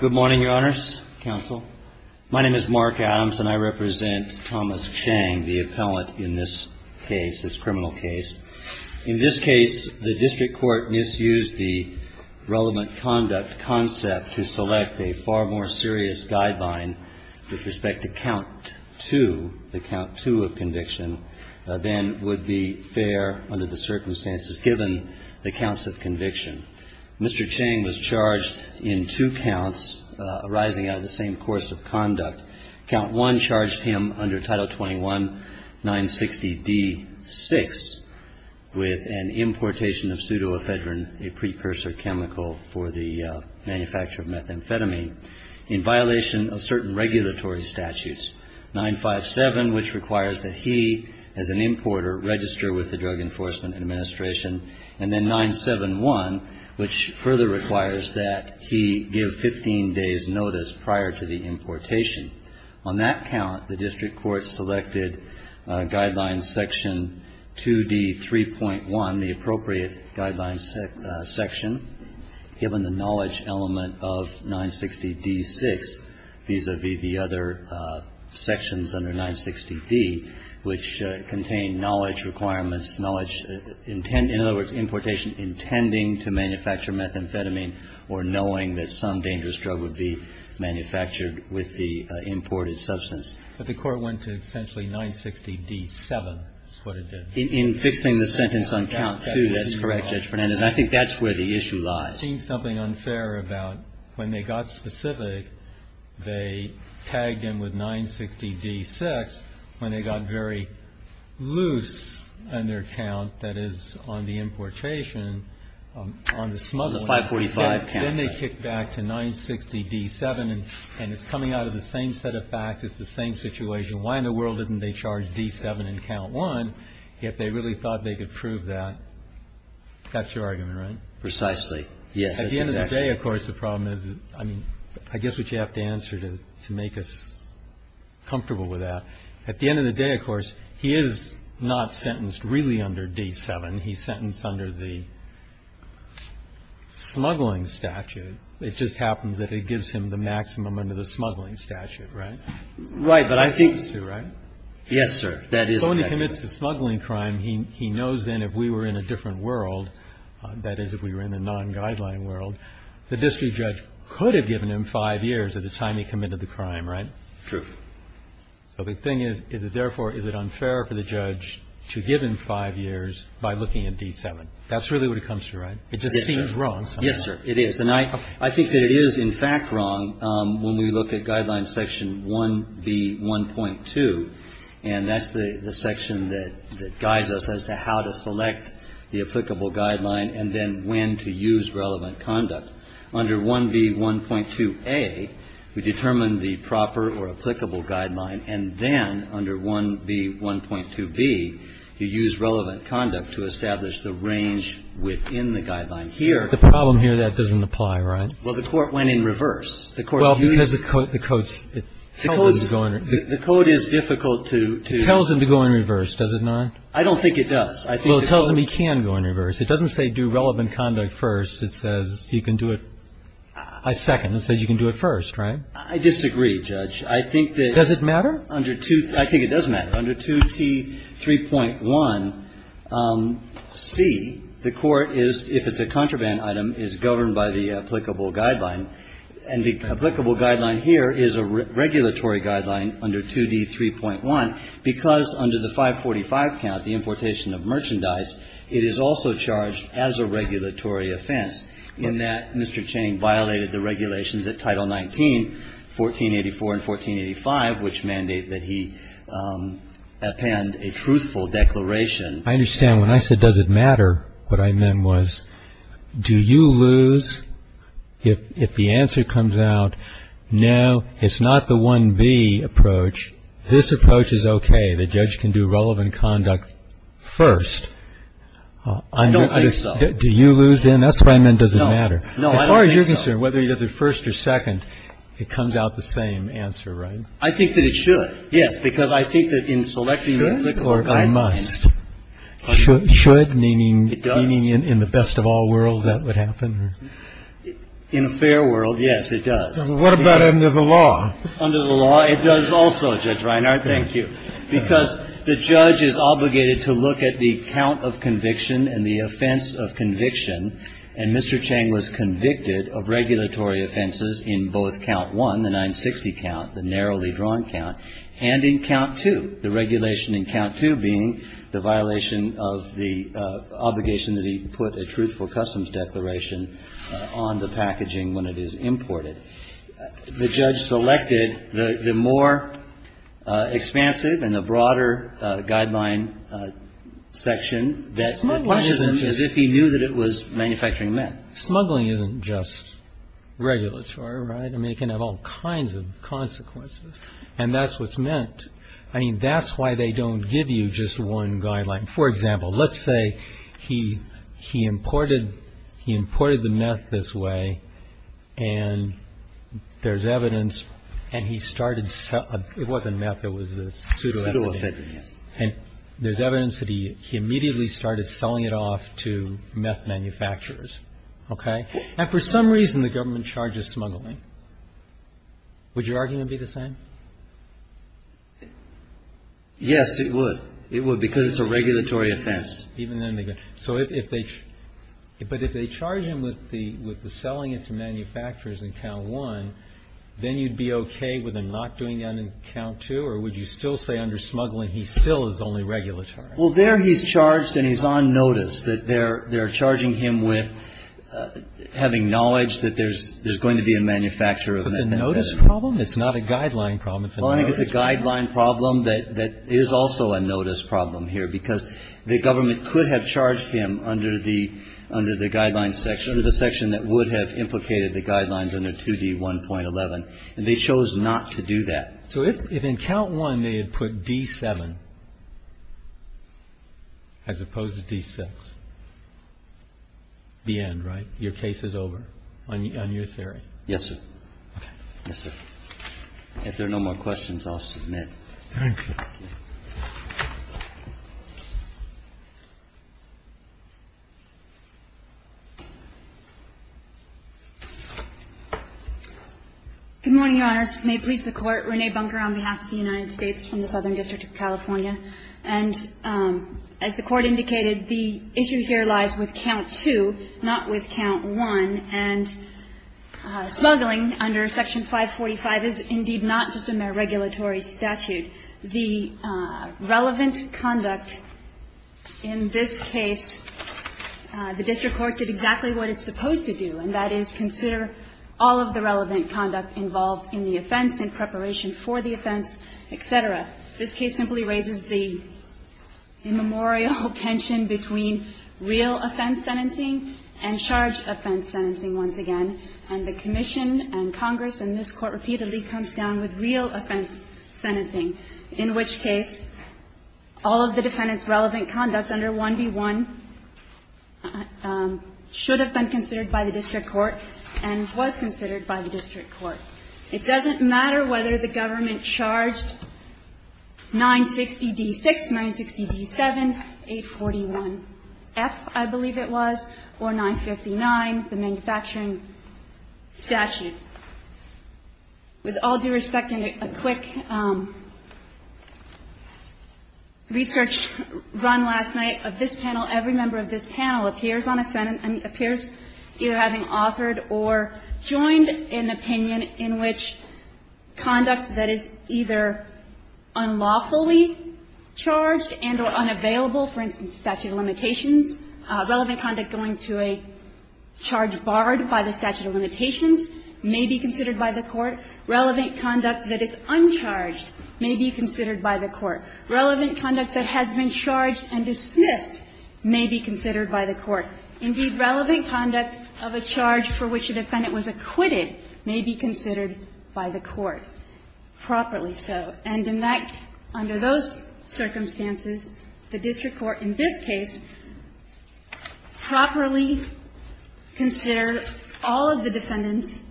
Good morning, Your Honors, Counsel. My name is Mark Adams, and I represent Thomas Chang, the appellant in this case, this criminal case. In this case, the district court misused the relevant conduct concept to select a far more serious guideline with respect to count two, the count two of conviction, than would be fair under the circumstances given the counts of conviction. Mr. Chang was charged in two counts arising out of the same course of conduct. Count one charged him under Title 21-960-D-6 with an importation of pseudoephedrine, a precursor chemical for the manufacture of methamphetamine, in violation of certain regulatory statutes. 957, which requires that he, as an importer, register with the Drug Enforcement Administration. And then 971, which further requires that he give 15 days' notice prior to the importation. On that count, the district court selected Guideline Section 2D-3.1, the appropriate guideline section, given the knowledge element of 960-D-6, vis-à-vis the other sections under 960-D, which contain knowledge requirements, knowledge, in other words, importation intending to manufacture methamphetamine or knowing that some dangerous drug would be manufactured with the imported substance. But the court went to essentially 960-D-7 is what it did. In fixing the sentence on count two, that's correct, Judge Fernandez. And I think that's where the issue lies. I've seen something unfair about when they got specific, they tagged him with 960-D-6 when they got very loose on their count, that is, on the importation, on the smuggling. The 545 count. Then they kicked back to 960-D-7. And it's coming out of the same set of facts. It's the same situation. Why in the world didn't they charge D-7 in count one if they really thought they could prove that? That's your argument, right? Precisely. Yes. At the end of the day, of course, the problem is, I mean, I guess what you have to answer to make us comfortable with that, at the end of the day, of course, he is not sentenced really under D-7. He's sentenced under the smuggling statute. It just happens that it gives him the maximum under the smuggling statute, right? Right. But I think. Yes, sir. That is. So when he commits the smuggling crime, he knows then if we were in a different world, that is, if we were in the non-guideline world, the district judge could have given him five years at the time he committed the crime, right? True. So the thing is, therefore, is it unfair for the judge to give him five years by looking at D-7? That's really what it comes to, right? It just seems wrong sometimes. Yes, sir. It is. And I think that it is, in fact, wrong when we look at Guideline Section 1B1.2. And that's the section that guides us as to how to select the applicable guideline and then when to use relevant conduct. Under 1B1.2a, we determine the proper or applicable guideline. And then under 1B1.2b, you use relevant conduct to establish the range within the guideline here. The problem here, that doesn't apply, right? Well, the Court went in reverse. The Court used. Well, because the Code's. The Code is difficult to. It tells him to go in reverse, does it not? I don't think it does. Well, it tells him he can go in reverse. It doesn't say do relevant conduct first. It says you can do it a second. It says you can do it first, right? I disagree, Judge. I think that. Does it matter? Under 2. I think it does matter. Under 2T3.1c, the Court is, if it's a contraband item, is governed by the applicable guideline. And the applicable guideline here is a regulatory guideline under 2D3.1, because under the 545 count, the importation of merchandise, it is also charged as a regulatory offense, in that Mr. Cheney violated the regulations at Title 19, 1484 and 1485, which mandate that he append a truthful declaration. I understand. When I said does it matter, what I meant was do you lose if the answer comes out, no, it's not the 1B approach, this approach is okay, the judge can do relevant conduct first. I don't think so. Do you lose then? That's what I meant, does it matter. No, I don't think so. As far as you're concerned, whether he does it first or second, it comes out the same answer, right? I think that it should, yes, because I think that in selecting the applicable guideline. It should, meaning in the best of all worlds that would happen? In a fair world, yes, it does. What about under the law? Under the law, it does also, Judge Reinhart, thank you. Because the judge is obligated to look at the count of conviction and the offense of conviction, and Mr. Cheney was convicted of regulatory offenses in both count one, the 960 count, the narrowly drawn count, and in count two. The regulation in count two being the violation of the obligation that he put a truthful customs declaration on the packaging when it is imported. The judge selected the more expansive and the broader guideline section that he knew that it was manufacturing meth. Smuggling isn't just regulatory, right? I mean, it can have all kinds of consequences, and that's what's meant. I mean, that's why they don't give you just one guideline. For example, let's say he imported the meth this way, and there's evidence, and he started selling it. It wasn't meth. It was a pseudo-effigy. And there's evidence that he immediately started selling it off to meth manufacturers, okay? Now, for some reason, the government charges smuggling. Would your argument be the same? Yes, it would. It would, because it's a regulatory offense. Even then they go. So if they charge him with the selling it to manufacturers in count one, then you'd be okay with him not doing that in count two? Or would you still say under smuggling he still is only regulatory? Well, there he's charged and he's on notice, that they're charging him with having knowledge that there's going to be a manufacturer of meth. But the notice problem? It's not a guideline problem. It's a notice problem. Well, I think it's a guideline problem that is also a notice problem here, because the government could have charged him under the guideline section, the section that would have implicated the guidelines under 2D1.11, and they chose not to do that. So if in count one they had put D7 as opposed to D6, the end, right? Your case is over on your theory? Yes, sir. Okay. Yes, sir. If there are no more questions, I'll submit. Thank you. Good morning, Your Honors. May it please the Court. Renee Bunker on behalf of the United States from the Southern District of California. And as the Court indicated, the issue here lies with count two, not with count one. And smuggling under Section 545 is indeed not just a mere regulatory statute. The relevant conduct in this case, the district court did exactly what it's supposed to do, and that is consider all of the relevant conduct involved in the offense in preparation for the offense, et cetera. This case simply raises the immemorial tension between real offense sentencing and charged offense sentencing once again. And the commission and Congress and this Court repeatedly comes down with real offense sentencing, in which case all of the defendant's relevant conduct under 1B1 should have been considered by the district court and was considered by the district court. It doesn't matter whether the government charged 960D6, 960D7, 841F, I believe it was, or 959, the manufacturing statute. With all due respect, in a quick research run last night of this panel, every member of this panel appears on a Senate and appears either having authored or joined an opinion in which conduct that is either unlawfully charged and or unavailable, for instance, statute of limitations, relevant conduct going to a charge barred by the statute of limitations may be considered by the Court, relevant conduct that is uncharged may be considered by the Court, relevant conduct that has been charged and dismissed may be considered by the Court. Indeed, relevant conduct of a charge for which a defendant was acquitted may be considered by the Court, properly so. And in that, under those circumstances, the district court in this case properly consider all of the defendant's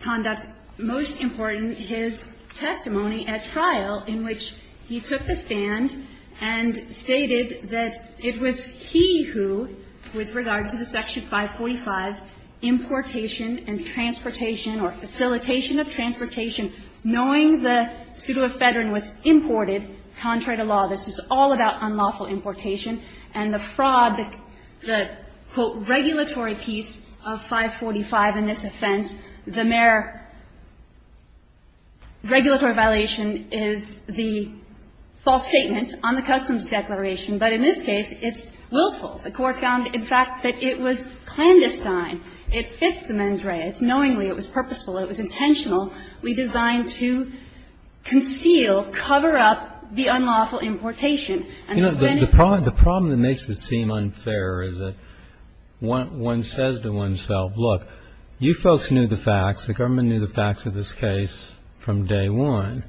conduct, most important, his testimony at trial in which he took the stand and stated that it was he who, with regard to the section 545, importation and transportation or facilitation of transportation, knowing the pseudoephedrine was imported, contrary to law, this is all about unlawful importation and the fraud, the, quote, regulatory piece of 545 in this offense. The mere regulatory violation is the false statement on the Customs Declaration. But in this case, it's willful. The Court found, in fact, that it was clandestine. It fits the mens rea. It's knowingly. It was purposeful. It was intentional. We designed to conceal, cover up the unlawful importation. The problem that makes it seem unfair is that one says to oneself, look, you folks knew the facts. The government knew the facts of this case from day one.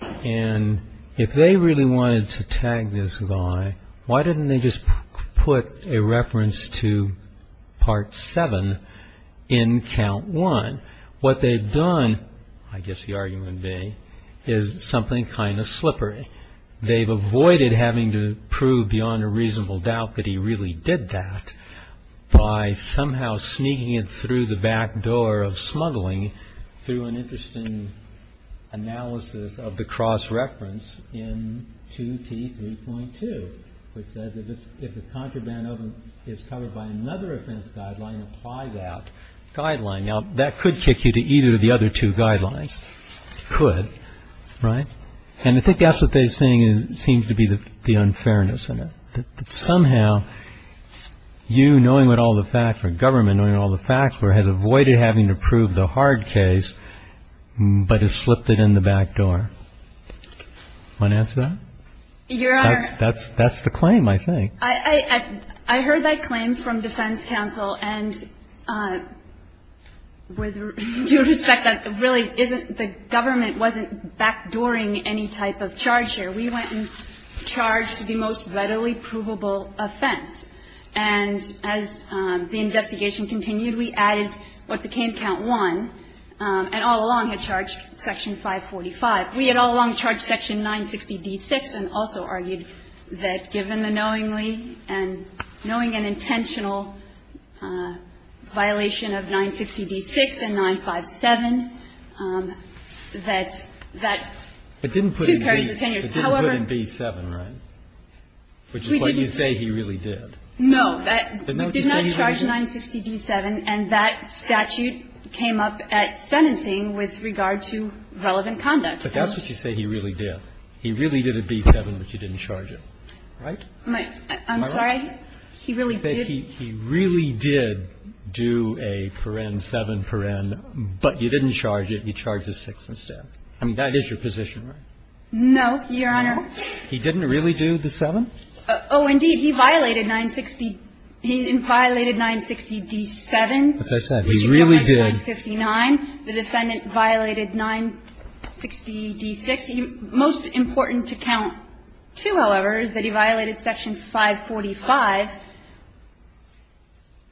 And if they really wanted to tag this guy, why didn't they just put a reference to Part 7 in Count 1? What they've done, I guess the argument would be, is something kind of slippery. They've avoided having to prove beyond a reasonable doubt that he really did that by somehow sneaking it through the back door of smuggling through an interesting analysis of the cross-reference in 2T3.2, which says that if the contraband oven is covered by another offense guideline, apply that guideline. Now, that could kick you to either of the other two guidelines. Could. Right? And I think that's what they're saying seems to be the unfairness in it, that somehow you, knowing all the facts, or government knowing all the facts, has avoided having to prove the hard case, but has slipped it in the back door. Want to answer that? Your Honor. That's the claim, I think. I heard that claim from defense counsel. And with due respect, that really isn't the government wasn't backdooring any type of charge here. We went and charged the most readily provable offense. And as the investigation continued, we added what became Count 1, and all along had charged Section 545. We had all along charged Section 960d6 and also argued that given the knowingly and knowing an intentional violation of 960d6 and 957, that that two periods of 10 years, however We didn't put it in B7, right, which is what you say he really did. No. We did not charge 960d7, and that statute came up at sentencing with regard to relevant conduct. But that's what you say he really did. He really did a B7, but you didn't charge it. Right? I'm sorry? He really did. He really did do a paren, 7 paren, but you didn't charge it. He charged a 6 instead. I mean, that is your position, right? No, Your Honor. No? He didn't really do the 7? Oh, indeed. He violated 960. He violated 960d7. As I said, he really did. He violated 959. The defendant violated 960d6. The most important to count to, however, is that he violated section 545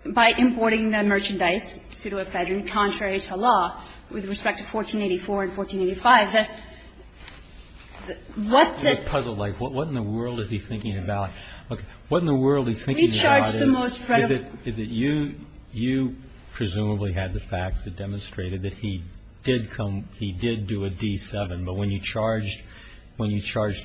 by importing the merchandise, pseudoephedrine, contrary to law, with respect to 1484 and 1485. What the What in the world is he thinking about? What in the world is he thinking about is that you presumably had the facts that demonstrated that he did come he did do a D7. But when you charged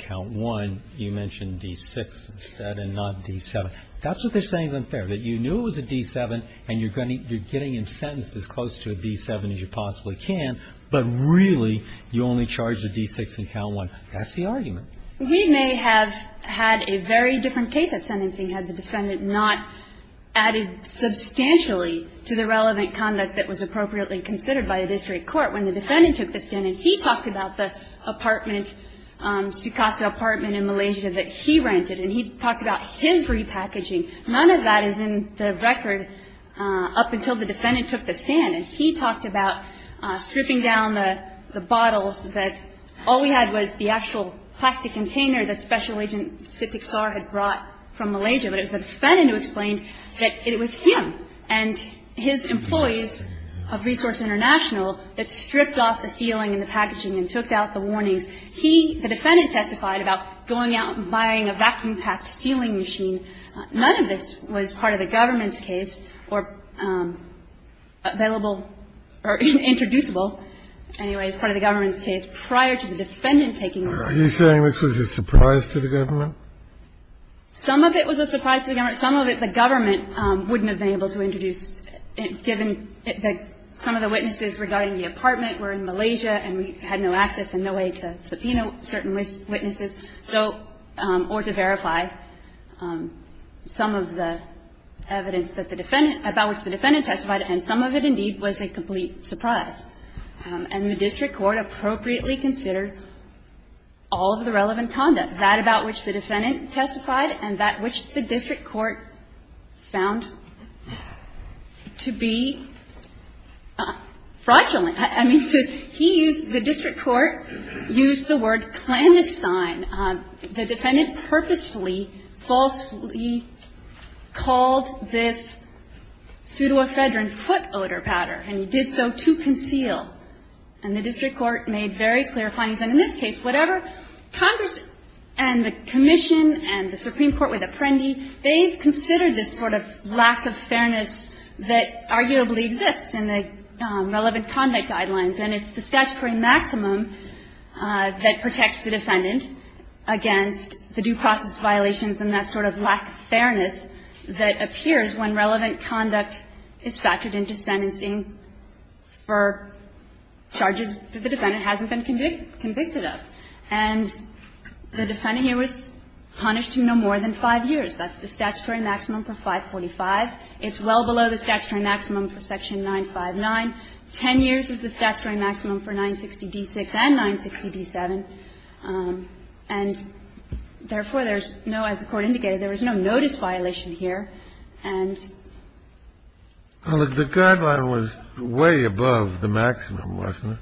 count 1, you mentioned D6 instead and not D7. That's what they're saying is unfair, that you knew it was a D7 and you're getting him sentenced as close to a D7 as you possibly can, but really you only charged a D6 in count 1. That's the argument. He may have had a very different case at sentencing had the defendant not added substantially to the relevant conduct that was appropriately considered by the district court when the defendant took the stand. And he talked about the apartment, Sukasa apartment in Malaysia that he rented. And he talked about his repackaging. None of that is in the record up until the defendant took the stand. And he talked about stripping down the bottles that all we had was the actual plastic container that Special Agent Sitiksar had brought from Malaysia. But it was the defendant who explained that it was him and his employees of Resource International that stripped off the ceiling and the packaging and took out the warnings. He, the defendant, testified about going out and buying a vacuum-packed sealing machine. None of this was part of the government's case or available or introducible, anyway, part of the government's case prior to the defendant taking the stand. Are you saying this was a surprise to the government? Some of it was a surprise to the government. Some of it the government wouldn't have been able to introduce, given that some of the witnesses regarding the apartment were in Malaysia and we had no access and no way to subpoena certain witnesses, so or to verify some of the evidence that the defendant, about which the defendant testified. And some of it, indeed, was a complete surprise. And the district court appropriately considered all of the relevant conduct, that about which the defendant testified and that which the district court found to be fraudulent. I mean, he used the district court, used the word clandestine. The defendant purposefully, falsely called this pseudoephedrine foot odor powder and he did so to conceal. And the district court made very clear findings. And in this case, whatever, Congress and the commission and the Supreme Court with Apprendi, they've considered this sort of lack of fairness that arguably exists in the relevant conduct guidelines. And it's the statutory maximum that protects the defendant against the due process violations and that sort of lack of fairness that appears when relevant conduct is factored into sentencing for charges that the defendant hasn't been convicted of. And the defendant here was punished to no more than 5 years. That's the statutory maximum for 545. It's well below the statutory maximum for Section 959. 10 years is the statutory maximum for 960d6 and 960d7. And therefore, there's no, as the Court indicated, there is no notice violation here. But it's in the statute itself that the guideline was above it. And... Kennedy, the guideline was way above the maximum, wasn't it?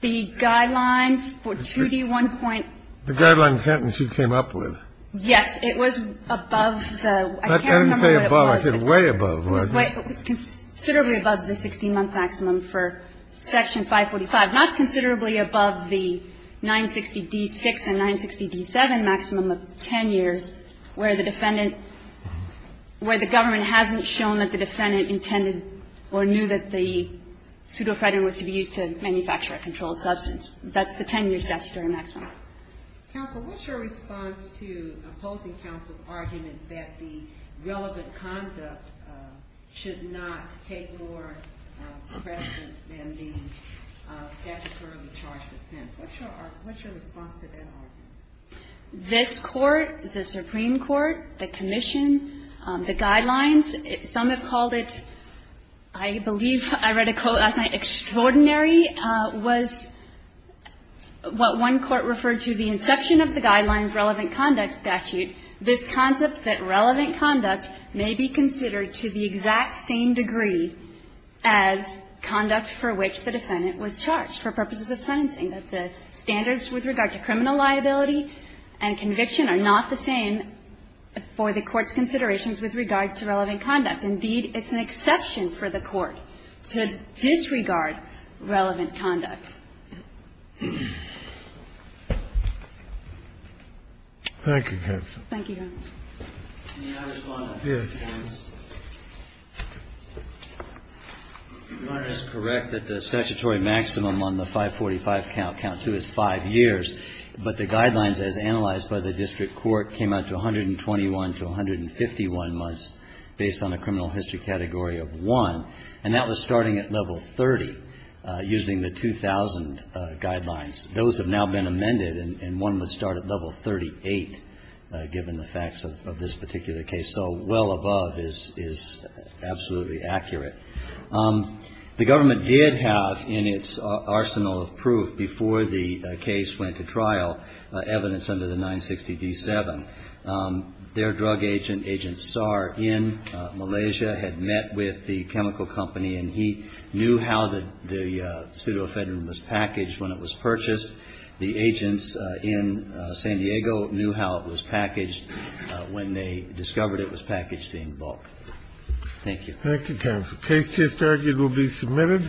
The guideline for 2d1.5. The guideline sentence you came up with. Yes. It was above the --. I can't remember what it was. I didn't say above. It was way above. It was considerably above the 16-month maximum for Section 545. Not considerably above the 960d6 and 960d7 maximum of 10 years where the defendant – where the government hasn't shown that the defendant intended or knew that the pseudo-fraud was to be used to manufacture a controlled substance. That's the 10-year statutory maximum. Counsel, what's your response to opposing counsel's argument that the relevant conduct should not take more precedence than the statutorily charged offense? What's your response to that argument? This Court, the Supreme Court, the Commission, the guidelines, some have called it, I believe I read a quote last night, extraordinary, was what one court referred to the inception of the guidelines relevant conduct statute, this concept that relevant conduct may be considered to the exact same degree as conduct for which the defendant was charged for purposes of sentencing, that the standards with regard to criminal liability and conviction are not the same for the Court's considerations with regard to relevant conduct. Indeed, it's an exception for the Court to disregard relevant conduct. Thank you, counsel. Thank you, Your Honor. May I respond? Yes. Your Honor, it's correct that the statutory maximum on the 545 count, count 2, is 5 years. But the guidelines as analyzed by the district court came out to 121 to 151 months based on a criminal history category of 1. And that was starting at level 30 using the 2000 guidelines. Those have now been amended, and one would start at level 38 given the facts of this particular case. So well above is absolutely accurate. The government did have in its arsenal of proof before the case went to trial evidence under the 960D7. Their drug agent, Agent Saar, in Malaysia had met with the chemical company, and he knew how the pseudoephedrine was packaged when it was purchased. The agents in San Diego knew how it was packaged when they discovered it was packaged in bulk. Thank you. Thank you, counsel. Case to history will be submitted.